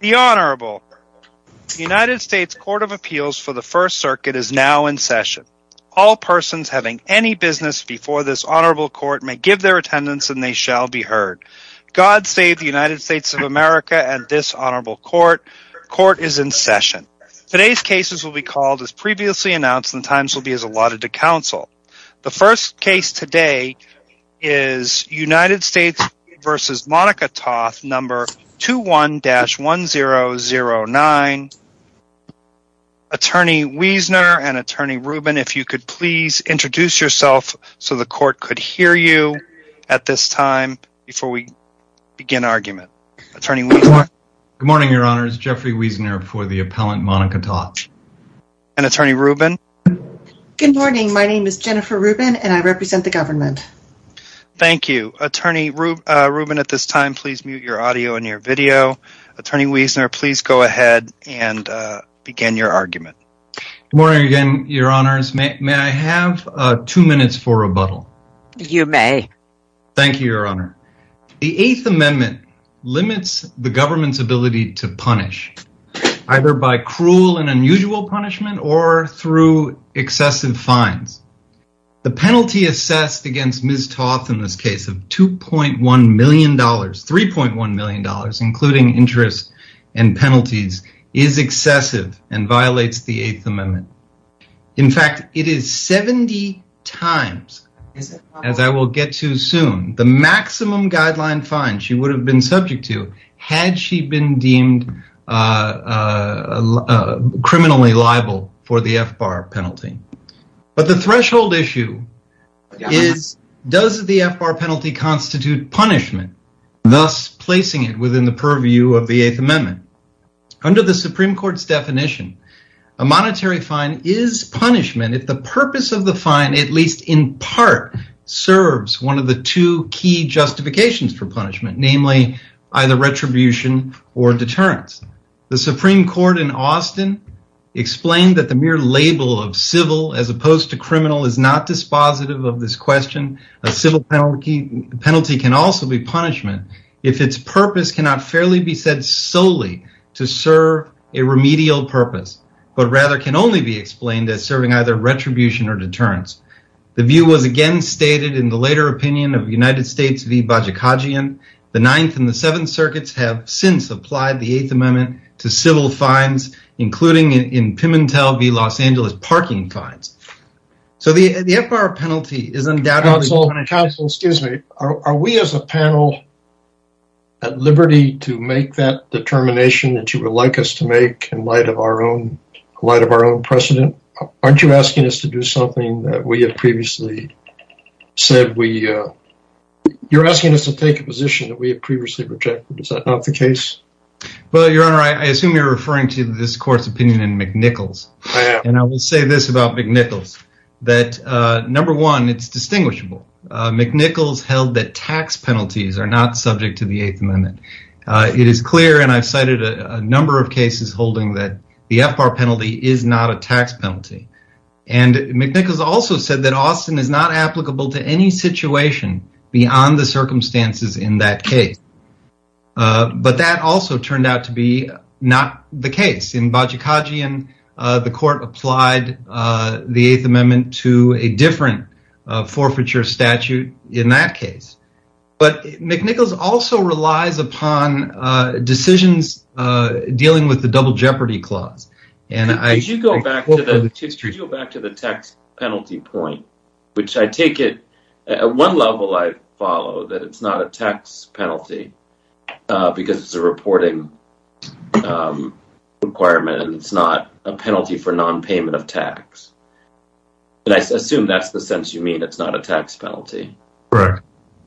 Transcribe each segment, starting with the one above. The Honourable United States Court of Appeals for the First Circuit is now in session. All persons having any business before this Honourable Court may give their attendance and they shall be heard. God save the United States of America and this Honourable Court. Court is in session. Today's cases will be called as previously announced and at times will be allotted to counsel. The first case today is United States v. Monica Toth, No. 21-1009. Attorney Wiesner and Attorney Rubin, if you could please introduce yourself so the Court could hear you at this time before we begin argument. Attorney Wiesner. Good morning, Your Honour. It's Jeffrey Wiesner for the appellant Monica Toth. And Attorney Rubin. Good morning. My name is Jennifer Rubin and I represent the government. Thank you. Attorney Rubin, at this time, please mute your audio and your video. Attorney Wiesner, please go ahead and begin your argument. Good morning again, Your Honours. May I have two minutes for rebuttal? You may. Thank you, Your Honour. The Eighth Amendment limits the government's ability to punish either by cruel and unusual punishment or through excessive fines. The penalty assessed against Ms. Toth in this case of $2.1 million, $3.1 million, including interest and penalties, is excessive and violates the Eighth Amendment. In fact, it is 70 times, as I will get to soon, the maximum guideline fine she would have been subject to had she been deemed criminally liable for the FBAR penalty. But the threshold issue is, does the FBAR penalty constitute punishment, thus placing it within the purview of the Eighth Amendment? Under the Supreme Court's definition, a monetary fine is punishment if the purpose of the fine, at least in part, serves one of the two key justifications for punishment, namely either retribution or deterrence. The Supreme Court in Austin explained that the mere label of civil as opposed to criminal is not dispositive of this question. A civil penalty can also be punishment if its purpose cannot fairly be said solely to serve a remedial purpose, but rather can only be explained as serving either retribution or deterrence. The view was again stated in the later opinion of the United States v. Bajikagian. The Ninth and the Seventh Circuits have since applied the Eighth Amendment to civil fines, including, in Pimentel v. Los Angeles, parking fines. So the FBAR penalty is undoubtedly punishment. Counsel, excuse me, are we as a panel at liberty to make that determination that you would like us to make in light of our own precedent? Aren't you asking us to do something that we have previously said we... You're asking us to take a position that we have previously rejected. Is that not the case? Well, Your Honor, I assume you're referring to this court's opinion in McNichols. I am. And I will say this about McNichols, that number one, it's distinguishable. McNichols held that tax penalties are not subject to the Eighth Amendment. It is clear, and I've cited a number of cases holding that the FBAR penalty is not a tax penalty. And McNichols also said that Austin is not applicable to any situation beyond the circumstances in that case. But that also turned out to be not the case. In Bajikhajian, the court applied the Eighth Amendment to a different forfeiture statute in that case. But McNichols also relies upon decisions dealing with the Double Jeopardy Clause. Could you go back to the tax penalty point? At one level, I follow that it's not a tax penalty because it's a reporting requirement and it's not a penalty for nonpayment of tax. And I assume that's the sense you mean, it's not a tax penalty. Correct.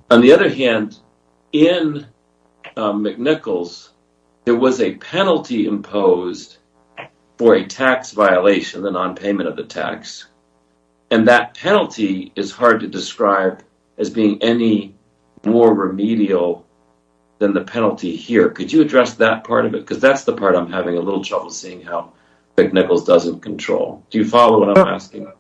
On the other hand, in McNichols, there was a penalty imposed for a tax violation, the nonpayment of the tax. And that penalty is hard to describe as being any more remedial than the penalty here. Could you address that part of it? Because that's the part I'm having a little trouble seeing how McNichols doesn't control. Do you follow what I'm asking?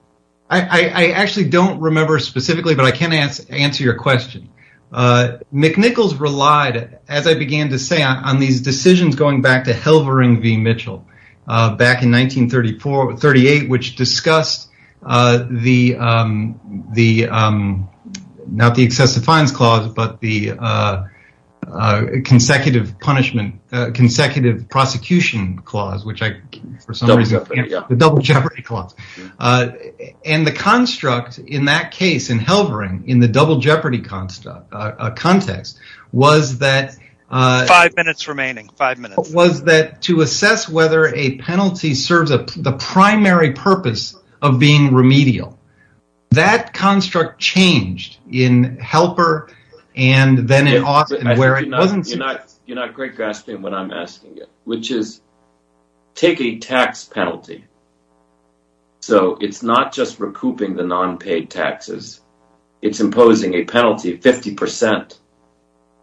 I actually don't remember specifically, but I can answer your question. McNichols relied, as I began to say, on these decisions going back to Helvering v. Mitchell back in 1938, which discussed not the Excessive Fines Clause, but the Consecutive Prosecution Clause, the Double Jeopardy Clause. And the construct in that case, in Helvering, in the Double Jeopardy context, was that to assess whether a penalty serves the primary purpose of being remedial. That construct changed in Helper and then in Austin where it wasn't. Take a tax penalty. So it's not just recouping the nonpaid taxes. It's imposing a penalty of 50%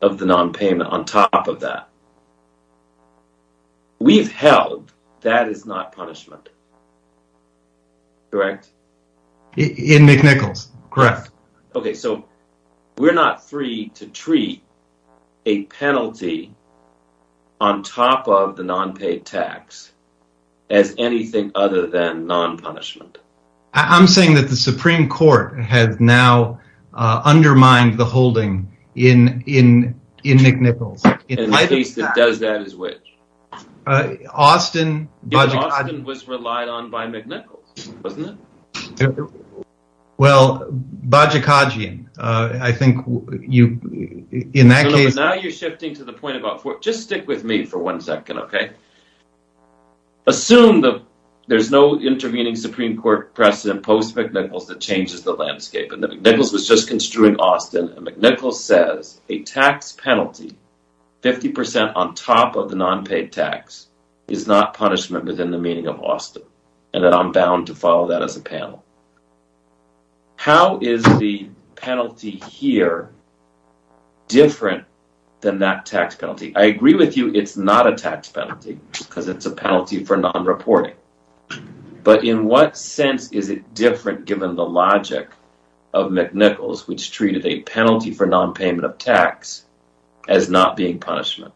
of the nonpayment on top of that. We've held that is not punishment. Correct? In McNichols, correct. So we're not free to treat a penalty on top of the nonpaid tax as anything other than nonpunishment. I'm saying that the Supreme Court has now undermined the holding in McNichols. And the case that does that is which? Austin. Austin was relied on by McNichols, wasn't it? Well, Bajikadzian. I think in that case... Now you're shifting to the point about... Just stick with me for one second, okay? Assume that there's no intervening Supreme Court precedent post-McNichols that changes the landscape. McNichols was just construing Austin. McNichols says a tax penalty, 50% on top of the nonpaid tax, is not punishment within the meaning of Austin. And I'm bound to follow that as a panel. How is the penalty here different than that tax penalty? I agree with you it's not a tax penalty because it's a penalty for nonreporting. But in what sense is it different given the logic of McNichols which treated a penalty for nonpayment of tax as not being punishment?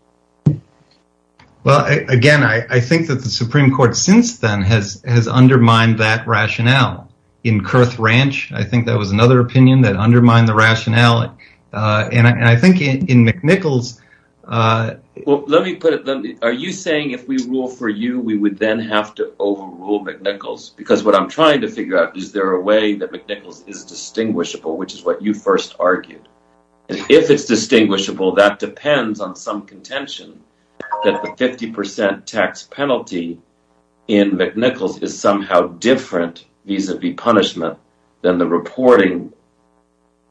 Well, again, I think that the Supreme Court since then has undermined that rationale. In Kurth Ranch, I think that was another opinion that undermined the rationale. And I think in McNichols... Are you saying if we rule for you, we would then have to overrule McNichols? Because what I'm trying to figure out is there a way that McNichols is distinguishable which is what you first argued. If it's distinguishable, that depends on some contention that the 50% tax penalty in McNichols is somehow different vis-a-vis punishment than the reporting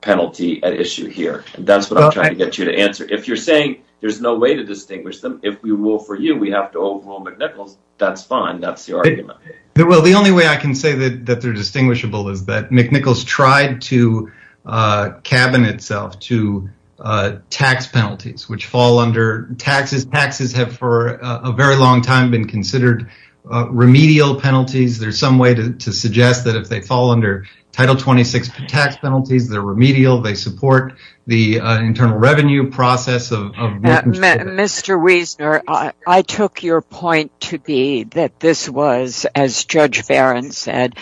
penalty at issue here. That's what I'm trying to get you to answer. If you're saying there's no way to distinguish them, if we rule for you, we have to overrule McNichols, that's fine. That's your argument. Well, the only way I can say that they're distinguishable is that McNichols tried to cabin itself to tax penalties which fall under taxes. Taxes have for a very long time been considered remedial penalties. There's some way to suggest that if they fall under Title 26 tax penalties, they're remedial. They support the internal revenue process of... Mr. Wiesner, I took your point to be that this was, as Judge Barron said,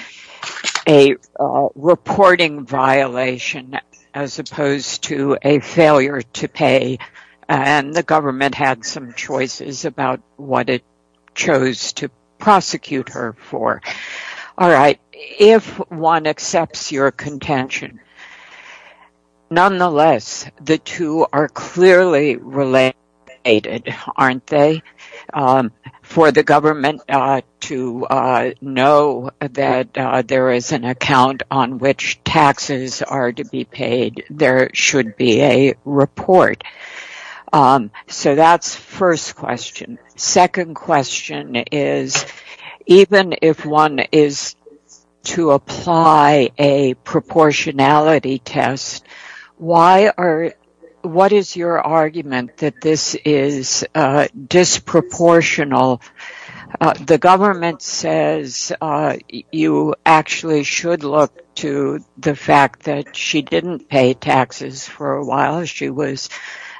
a reporting violation as opposed to a failure to pay and the government had some choices about what it chose to prosecute her for. If one accepts your contention, nonetheless, the two are clearly related, aren't they? For the government to know that there is an account on which taxes are to be paid, there should be a report. So that's first question. Second question is, even if one is to apply a proportionality test, what is your argument that this is disproportional? The government says you actually should look to the fact that she didn't pay taxes for a while. She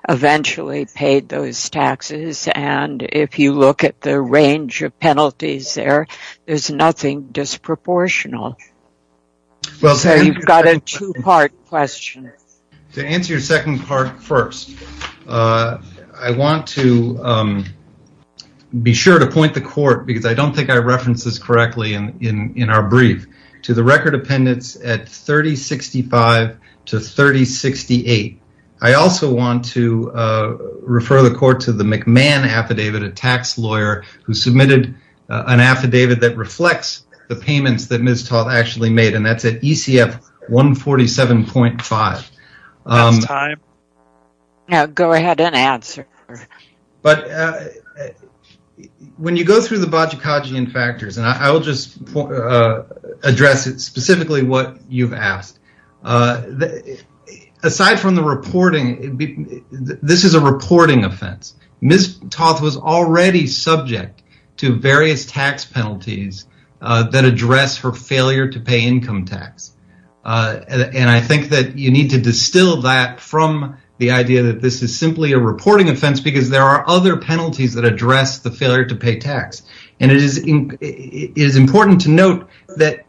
eventually paid those taxes and if you look at the range of penalties there, there's nothing disproportional. So you've got a two-part question. To answer your second part first, I want to be sure to point the court, because I don't think I referenced this correctly in our brief, to the record appendix at 3065 to 3068. I also want to refer the court to the McMahon affidavit, a tax lawyer who submitted an affidavit that reflects the payments that Ms. Toth actually made and that's at ECF 147.5. When you go through the Bajagajian factors, and I'll just address specifically what you've asked, aside from the reporting, this is a reporting offense. Ms. Toth was already subject to various tax penalties that address her failure to pay income tax. I think that you need to distill that from the idea that this is simply a reporting offense because there are other penalties that address the failure to pay tax. It is important to note that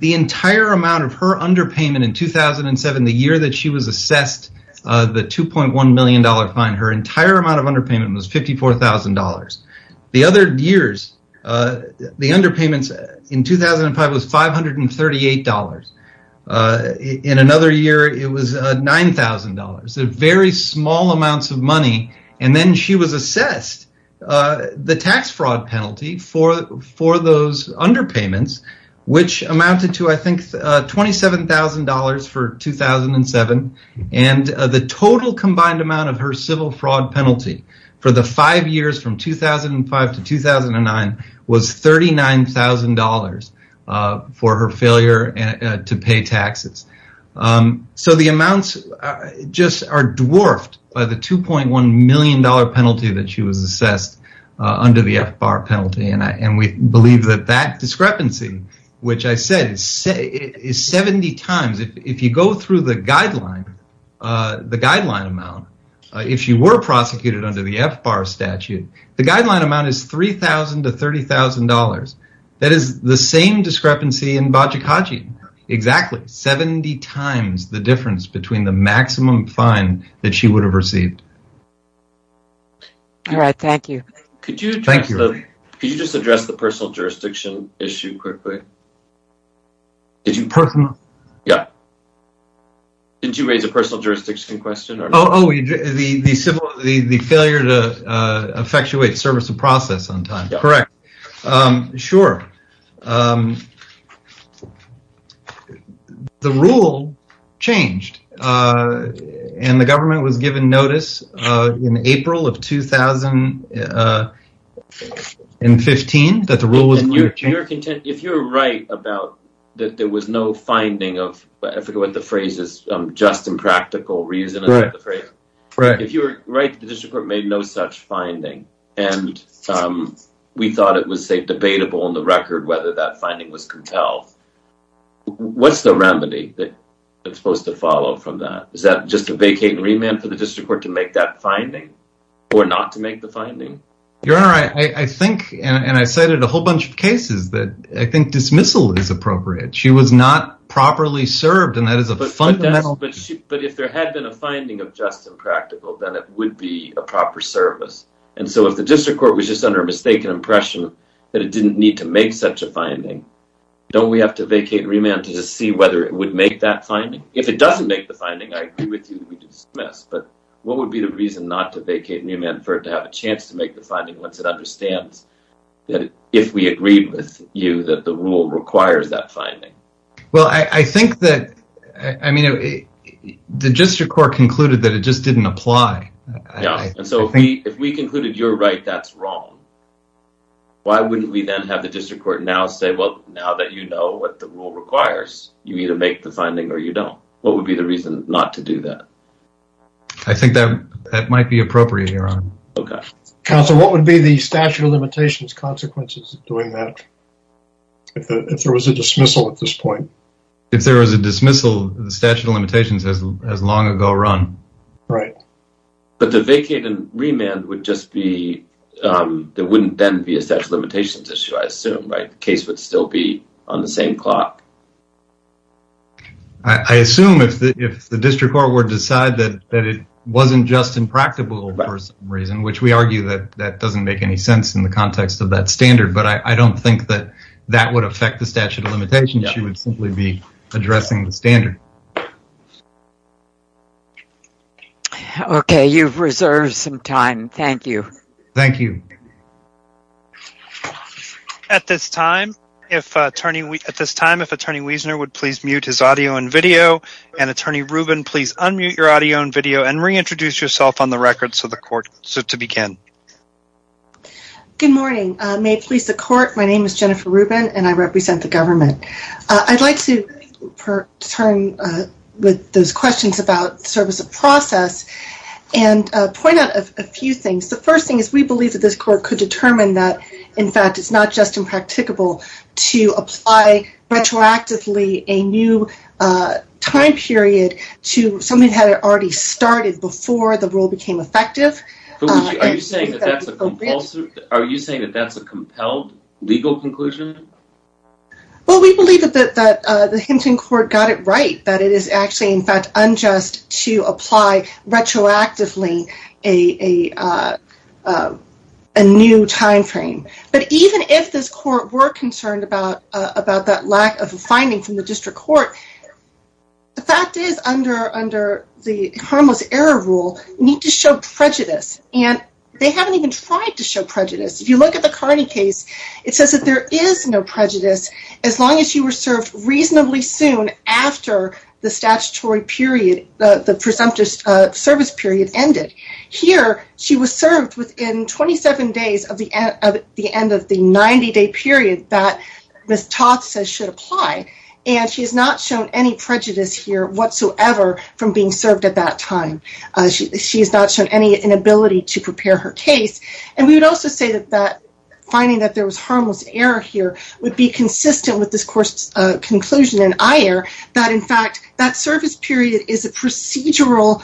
the entire amount of her underpayment in 2007, the year that she was assessed the $2.1 million fine, her entire amount of underpayment was $54,000. The other years, the underpayments in 2005 was $538. In another year, it was $9,000. There were very small amounts of money, and then she was assessed the tax fraud penalty for those underpayments, which amounted to $27,000 for 2007. The total combined amount of her civil fraud penalty for the five years from 2005 to 2009 was $39,000 for her failure to pay taxes. The amounts are dwarfed by the $2.1 million penalty that she was assessed under the FBAR penalty. We believe that that discrepancy, which I said, is 70 times. If you go through the guideline amount, if she were prosecuted under the FBAR statute, the guideline amount is $3,000 to $30,000. That is the same discrepancy in Bajikaji, exactly 70 times the difference between the maximum fine that she would have received. Thank you. Could you just address the personal jurisdiction issue quickly? Did you raise a personal jurisdiction question? Oh, the failure to effectuate service of process on time, correct. Sure. The rule changed, and the government was given notice in April of 2015 that the rule was going to change. If you're right about that there was no finding of, I forget what the phrase is, just impractical reason. If you're right that the district court made no such finding, and we thought it was debatable on the record whether that finding was compelled, what's the remedy that's supposed to follow from that? Is that just a vacating remand for the district court to make that finding or not to make the finding? Your Honor, I think, and I cited a whole bunch of cases that I think dismissal is appropriate. She was not properly served, and that is a fundamental… But if there had been a finding of just impractical, then it would be a proper service. And so if the district court was just under a mistaken impression that it didn't need to make such a finding, don't we have to vacate remand to see whether it would make that finding? If it doesn't make the finding, I agree with you, we dismiss. But what would be the reason not to vacate remand for it to have a chance to make the finding once it understands that if we agreed with you that the rule requires that finding? Well, I think that the district court concluded that it just didn't apply. And so if we concluded you're right, that's wrong. Why wouldn't we then have the district court now say, well, now that you know what the rule requires, you either make the finding or you don't. What would be the reason not to do that? I think that might be appropriate, Your Honor. Counsel, what would be the statute of limitations consequences of doing that if there was a dismissal at this point? If there was a dismissal, the statute of limitations has long ago run. Right. But the vacate and remand would just be, there wouldn't then be a statute of limitations issue, I assume, right? The case would still be on the same clock. I assume if the district court would decide that it wasn't just impractical for some reason, which we argue that that doesn't make any sense in the context of that standard. But I don't think that that would affect the statute of limitations. It would simply be addressing the standard. Okay, you've reserved some time. Thank you. Thank you. At this time, if Attorney Wiesner would please mute his audio and video, and Attorney Rubin, please unmute your audio and video and reintroduce yourself on the record so the court can begin. Good morning. May it please the court. My name is Jennifer Rubin, and I represent the government. I'd like to turn with those questions about service of process and point out a few things. The first thing is we believe that this court could determine that, in fact, it's not just impracticable to apply retroactively a new time period to something that had already started before the rule became effective. Are you saying that that's a compelled legal conclusion? Well, we believe that the Hinton court got it right, that it is actually, in fact, unjust to apply retroactively a new time frame. But even if this court were concerned about that lack of a finding from the district court, the fact is under the harmless error rule, you need to show prejudice. And they haven't even tried to show prejudice. If you look at the Carney case, it says that there is no prejudice as long as you were served reasonably soon after the statutory period, the presumptive service period ended. Here, she was served within 27 days of the end of the 90-day period that Ms. Toth says should apply. And she has not shown any prejudice here whatsoever from being served at that time. She has not shown any inability to prepare her case. And we would also say that finding that there was harmless error here would be consistent with this court's conclusion in IR that, in fact, that service period is a procedural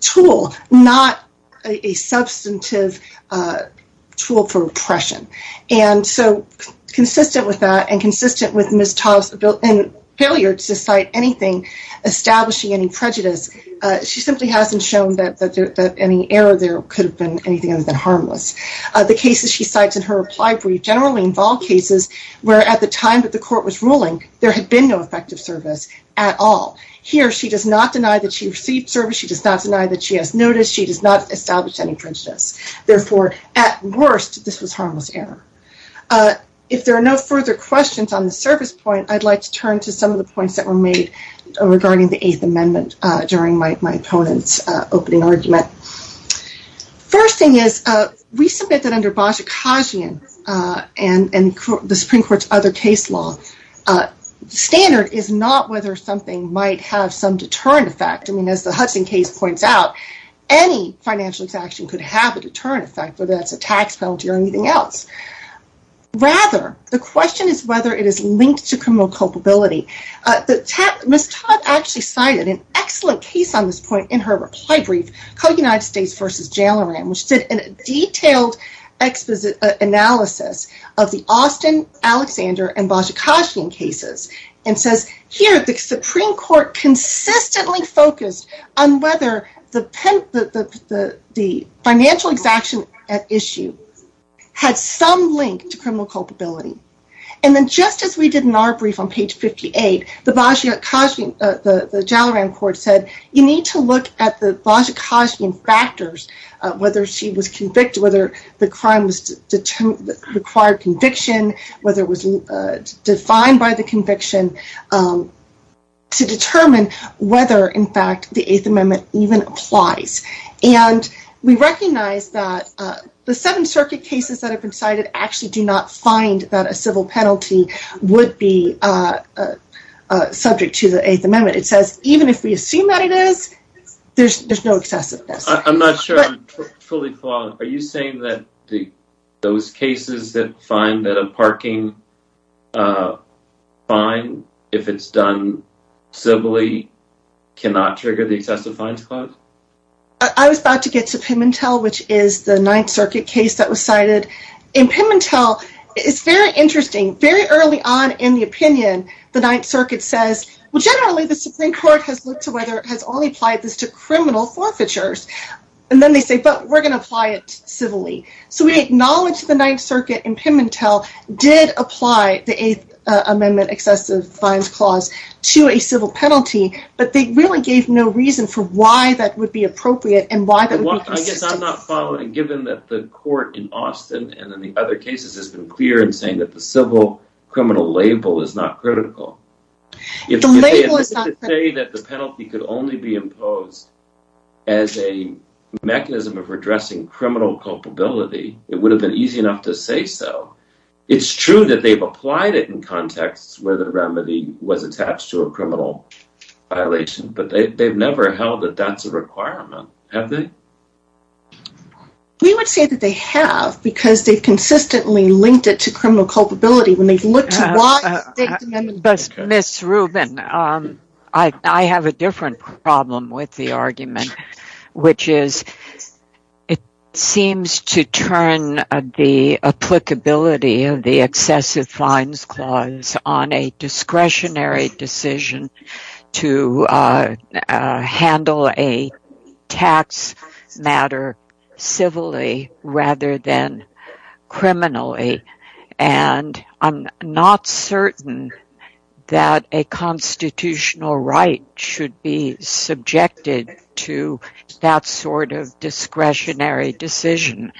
tool, not a substantive tool for repression. And so consistent with that and consistent with Ms. Toth's failure to cite anything establishing any prejudice, she simply hasn't shown that any error there could have been anything other than harmless. The cases she cites in her reply brief generally involve cases where, at the time that the court was ruling, there had been no effective service at all. Here, she does not deny that she received service. She does not deny that she has noticed. She does not establish any prejudice. Therefore, at worst, this was harmless error. If there are no further questions on the service point, I'd like to turn to some of the points that were made regarding the Eighth Amendment during my opponent's opening argument. First thing is, we submit that under Bajikashian and the Supreme Court's other case law, standard is not whether something might have some deterrent effect. I mean, as the Hudson case points out, any financial exaction could have a deterrent effect, whether that's a tax penalty or anything else. Rather, the question is whether it is linked to criminal culpability. Ms. Todd actually cited an excellent case on this point in her reply brief called United States v. Jailoran, which did a detailed analysis of the Austin, Alexander, and Bajikashian cases and says, here, the Supreme Court consistently focused on whether the financial exaction at issue had some link to criminal culpability. And then just as we did in our brief on page 58, the Bajikashian, the Jailoran court said, you need to look at the Bajikashian factors, whether she was convicted, whether the crime was required conviction, whether it was defined by the conviction, to determine whether, in fact, the Eighth Amendment even applies. And we recognize that the Seventh Circuit cases that have been cited actually do not find that a civil penalty would be subject to the Eighth Amendment. It says even if we assume that it is, there's no excessiveness. I'm not sure I'm fully caught. Are you saying that those cases that find that a parking fine, if it's done civilly, cannot trigger the excessive fines clause? I was about to get to Pimentel, which is the Ninth Circuit case that was cited. In Pimentel, it's very interesting, very early on in the opinion, the Ninth Circuit says, well, generally the Supreme Court has looked to whether it has only applied this to criminal forfeitures. And then they say, but we're going to apply it civilly. So we acknowledge the Ninth Circuit in Pimentel did apply the Eighth Amendment excessive fines clause to a civil penalty, but they really gave no reason for why that would be appropriate and why that would be consistent. Given that the court in Austin and in the other cases has been clear in saying that the civil criminal label is not critical. If they say that the penalty could only be imposed as a mechanism of redressing criminal culpability, it would have been easy enough to say so. It's true that they've applied it in contexts where the remedy was attached to a criminal violation, but they've never held that that's a requirement. Have they? We would say that they have, because they've consistently linked it to criminal culpability. When they've looked to why... But Ms. Rubin, I have a different problem with the argument, which is it seems to turn the applicability of the excessive fines clause on a discretionary decision to handle a tax matter civilly rather than criminally. And I'm not certain that a constitutional right should be subjected to that sort of discretionary decision.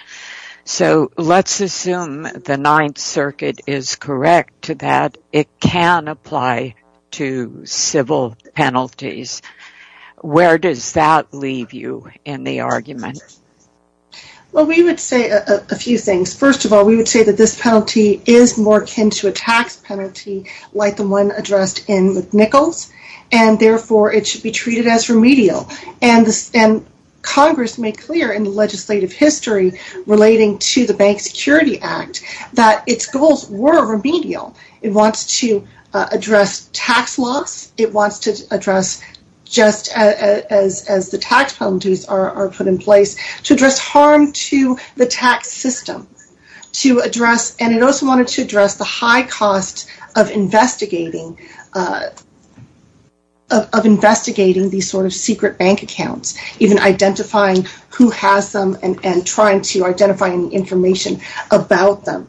So let's assume the Ninth Circuit is correct to that it can apply to civil penalties. Where does that leave you in the argument? Well, we would say a few things. First of all, we would say that this penalty is more akin to a tax penalty like the one addressed in Nichols, and therefore it should be treated as remedial. And Congress made clear in the legislative history relating to the Bank Security Act that its goals were remedial. It wants to address tax loss. It wants to address, just as the tax penalties are put in place, to address harm to the tax system. And it also wanted to address the high cost of investigating these sort of secret bank accounts, even identifying who has them and trying to identify any information about them.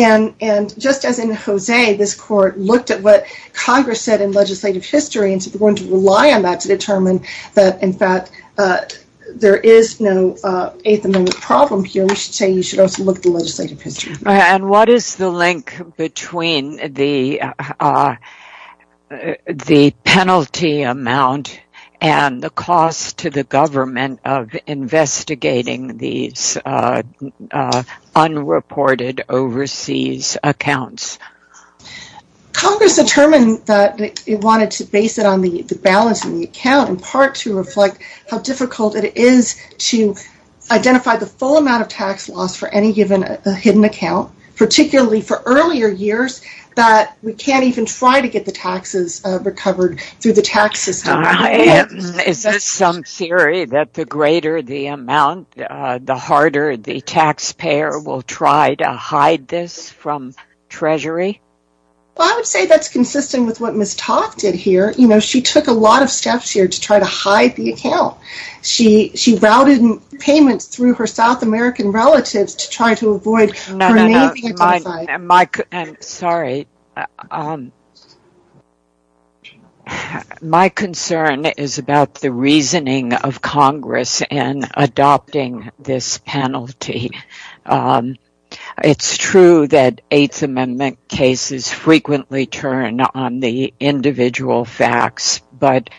And just as in Jose, this Court looked at what Congress said in legislative history and is going to rely on that to determine that, in fact, there is no eighth amendment problem here, we should say you should also look at the legislative history. And what is the link between the penalty amount and the cost to the government of investigating these unreported overseas accounts? Congress determined that it wanted to base it on the balance of the account, in part to reflect how difficult it is to identify the full amount of tax loss for any given hidden account, particularly for earlier years that we can't even try to get the taxes recovered through the tax system. Is this some theory that the greater the amount, the harder the taxpayer will try to hide this from Treasury? Well, I would say that's consistent with what Ms. Toth did here. She took a lot of steps here to try to hide the account. She routed payments through her South American relatives to try to avoid her name being identified. My concern is about the reasoning of Congress in adopting this penalty. It's true that eighth amendment cases frequently turn on the individual facts, but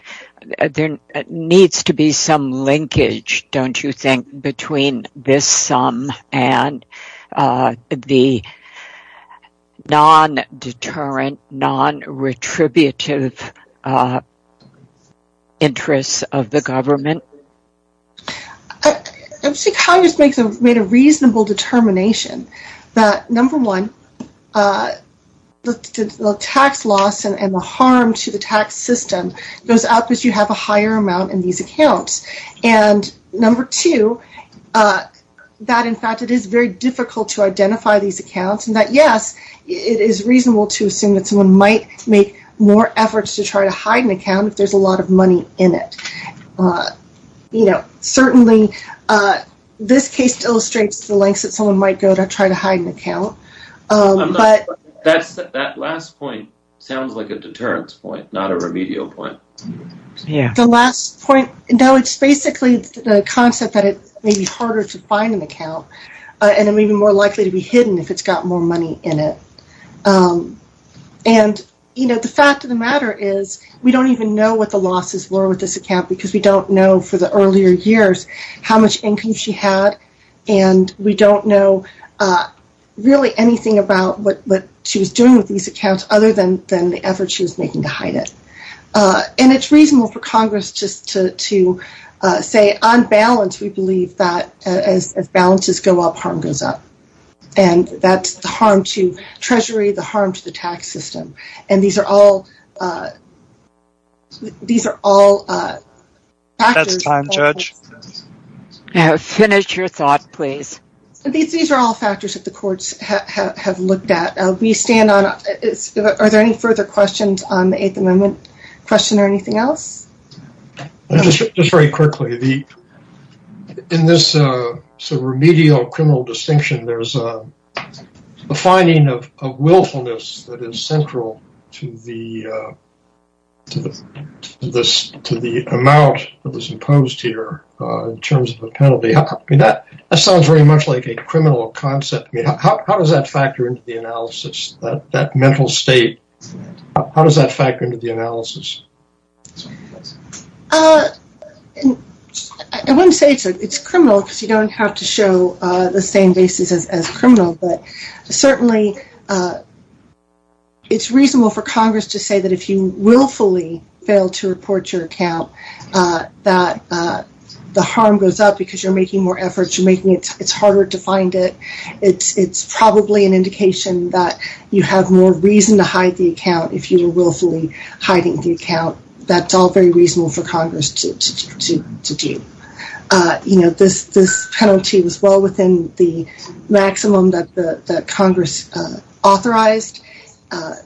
there needs to be some linkage, don't you think, between this sum and the non-deterrent, non-retributive interests of the government? I would say Congress made a reasonable determination that, number one, the tax loss and the harm to the tax system goes out because you have a higher amount in these accounts, and number two, that in fact it is very difficult to identify these accounts, and that yes, it is reasonable to assume that someone might make more efforts to try to hide an account if there's a lot of money in it. Certainly, this case illustrates the lengths that someone might go to try to hide an account. That last point sounds like a deterrence point, not a remedial point. The last point, no, it's basically the concept that it may be harder to find an account, and it may be more likely to be hidden if it's got more money in it. The fact of the matter is we don't even know what the losses were with this account because we don't know for the earlier years how much income she had, and we don't know really anything about what she was doing with these accounts other than the effort she was making to hide it. It's reasonable for Congress just to say, on balance, we believe that as balances go up, harm goes up. That's the harm to Treasury, the harm to the tax system. These are all factors that the courts have looked at. Are there any further questions on the Eighth Amendment question or anything else? Just very quickly, in this remedial criminal distinction, there's a finding of willfulness that is central to the amount that was imposed here in terms of a penalty. That sounds very much like a criminal concept. How does that factor into the analysis, that mental state? I wouldn't say it's criminal because you don't have to show the same basis as criminal, but certainly it's reasonable for Congress to say that if you willfully fail to report your account, that the harm goes up because you're making more efforts, you're making it harder to find it. It's probably an indication that you have more reason to hide the account. If you're willfully hiding the account, that's all very reasonable for Congress to do. This penalty was well within the maximum that Congress authorized,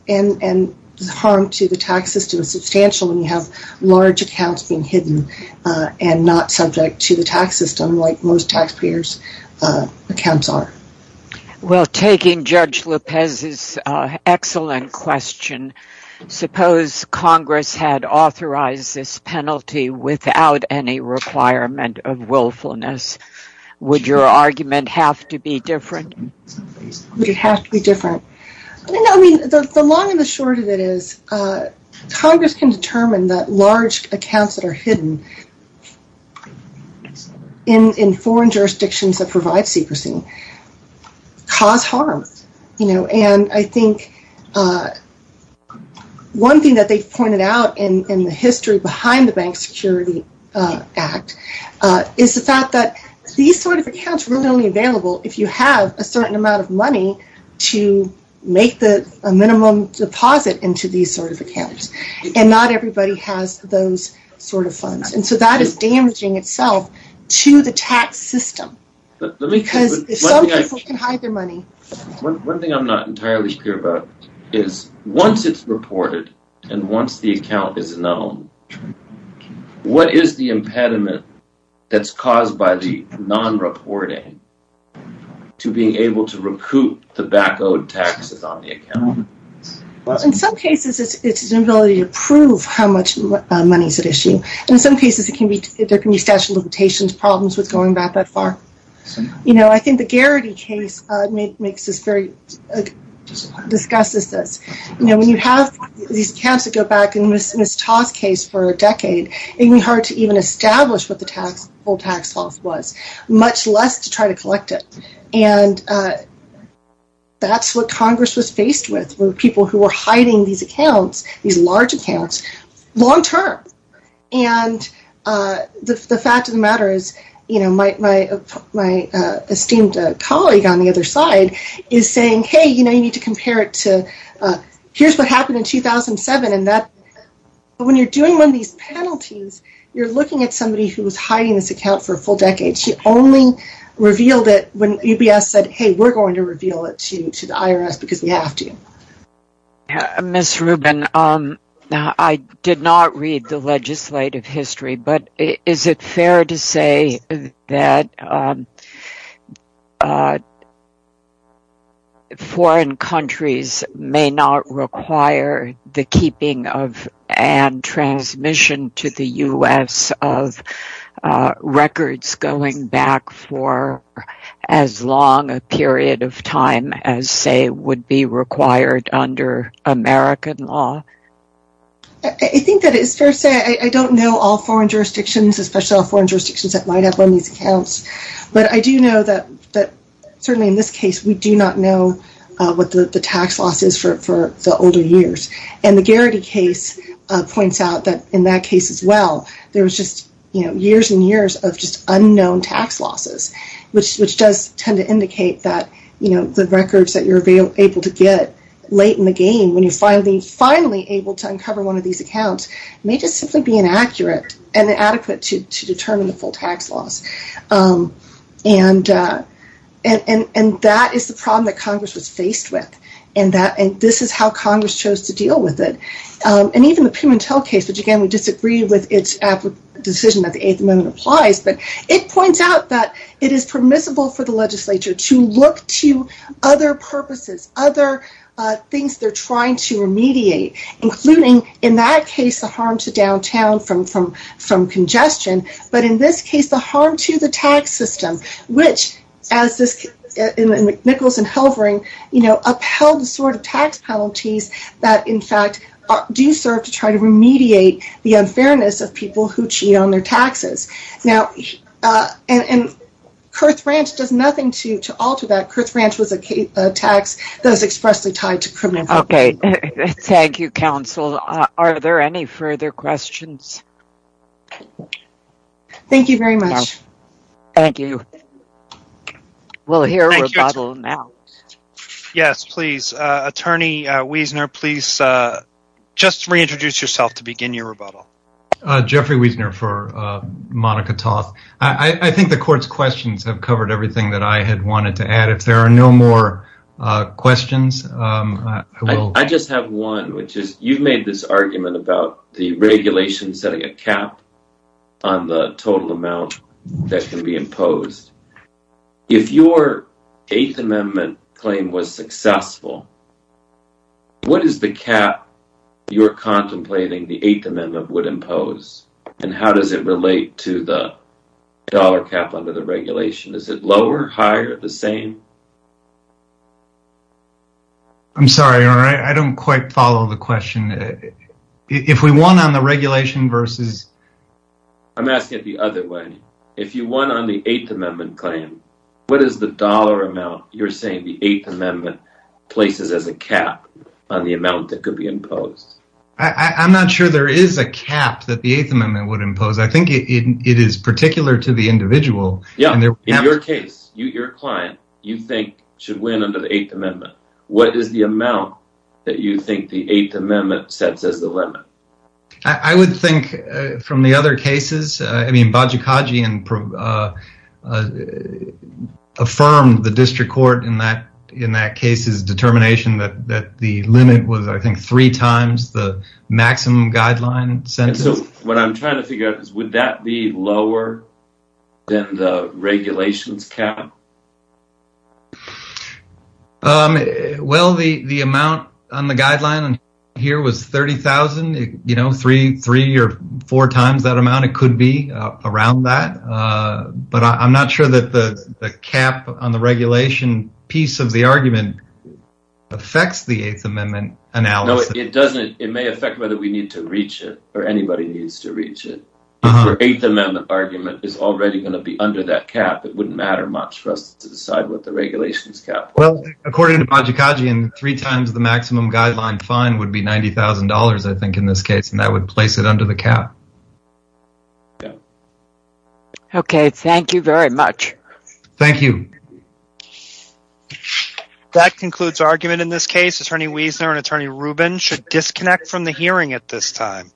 and the harm to the tax system is substantial when you have large accounts being hidden and not subject to the tax system like most taxpayers' accounts are. Well, taking Judge Lopez's excellent question, suppose Congress had authorized this penalty without any requirement of willfulness. Would your argument have to be different? Would it have to be different? The long and the short of it is Congress can determine that large accounts that are hidden in foreign jurisdictions that provide secrecy cause harm. I think one thing that they've pointed out in the history behind the Bank Security Act is the fact that these sort of accounts are only available if you have a certain amount of money to make a minimum deposit into these sort of accounts, and not everybody has those sort of funds. And so that is damaging itself to the tax system because some people can hide their money. One thing I'm not entirely clear about is once it's reported and once the account is known, what is the impediment that's caused by the non-reporting to being able to recoup the back-owed taxes on the account? In some cases, it's an ability to prove how much money is at issue. In some cases, there can be statute of limitations problems with going back that far. I think the Garrity case discusses this. When you have these accounts that go back, in Ms. Toth's case, for a decade, it can be hard to even establish what the full tax loss was, much less to try to collect it. And that's what Congress was faced with, with people who were hiding these accounts, these large accounts, long-term. And the fact of the matter is my esteemed colleague on the other side is saying, hey, you need to compare it to, here's what happened in 2007, and when you're doing one of these penalties, you're looking at somebody who was hiding this account for a full decade. She only revealed it when UBS said, hey, we're going to reveal it to the IRS because we have to. Ms. Rubin, I did not read the legislative history, but is it fair to say that foreign countries may not require the keeping of and transmission to the U.S. of records going back for as long a period of time as, say, would be required under American law? I think that it's fair to say I don't know all foreign jurisdictions, especially all foreign jurisdictions that might have one of these accounts. But I do know that, certainly in this case, we do not know what the tax loss is for the older years. And the Garrity case points out that in that case as well, there was just years and years of just unknown tax losses, which does tend to indicate that the records that you're able to get late in the game when you're finally, finally able to uncover one of these accounts may just simply be inaccurate and inadequate to determine the full tax loss. And that is the problem that Congress was faced with. And this is how Congress chose to deal with it. And even the Pimentel case, which again, we disagree with its decision that the Eighth Amendment applies, but it points out that it is permissible for the legislature to look to other purposes, other things they're trying to remediate, including in that case, the harm to downtown from congestion, but in this case, the harm to the tax system, which, as Nichols and Helvering, upheld the sort of tax penalties that, in fact, do serve to try to remediate the unfairness of people who cheat on their taxes. And Kurth Ranch does nothing to alter that. Kurth Ranch was a tax that was expressly tied to criminal fraud. Okay, thank you, counsel. Are there any further questions? Thank you very much. Thank you. We'll hear a rebuttal now. Yes, please. Attorney Wiesner, please just reintroduce yourself to begin your rebuttal. Jeffrey Wiesner for Monica Toth. I think the court's questions have covered everything that I had wanted to add. If there are no more questions, I will. You've made this argument about the regulation setting a cap on the total amount that can be imposed. If your Eighth Amendment claim was successful, what is the cap you're contemplating the Eighth Amendment would impose, and how does it relate to the dollar cap under the regulation? Is it lower, higher, the same? I'm sorry, Your Honor. I don't quite follow the question. If we won on the regulation versus – I'm asking it the other way. If you won on the Eighth Amendment claim, what is the dollar amount you're saying the Eighth Amendment places as a cap on the amount that could be imposed? I'm not sure there is a cap that the Eighth Amendment would impose. I think it is particular to the individual. In your case, your client, you think should win under the Eighth Amendment. What is the amount that you think the Eighth Amendment sets as the limit? I would think from the other cases – I mean, Bajikagi affirmed the district court in that case's determination that the limit was, I think, three times the maximum guideline sentence. What I'm trying to figure out is would that be lower than the regulation's cap? Well, the amount on the guideline here was $30,000, three or four times that amount. It could be around that. But I'm not sure that the cap on the regulation piece of the argument affects the Eighth Amendment analysis. No, it doesn't. It may affect whether we need to reach it or anybody needs to reach it. If your Eighth Amendment argument is already going to be under that cap, it wouldn't matter much for us to decide what the regulation's cap was. Well, according to Bajikagi, three times the maximum guideline fine would be $90,000, I think, in this case, and that would place it under the cap. Okay, thank you very much. Thank you. That concludes argument in this case. Attorney Wiesner and Attorney Rubin should disconnect from the hearing at this time.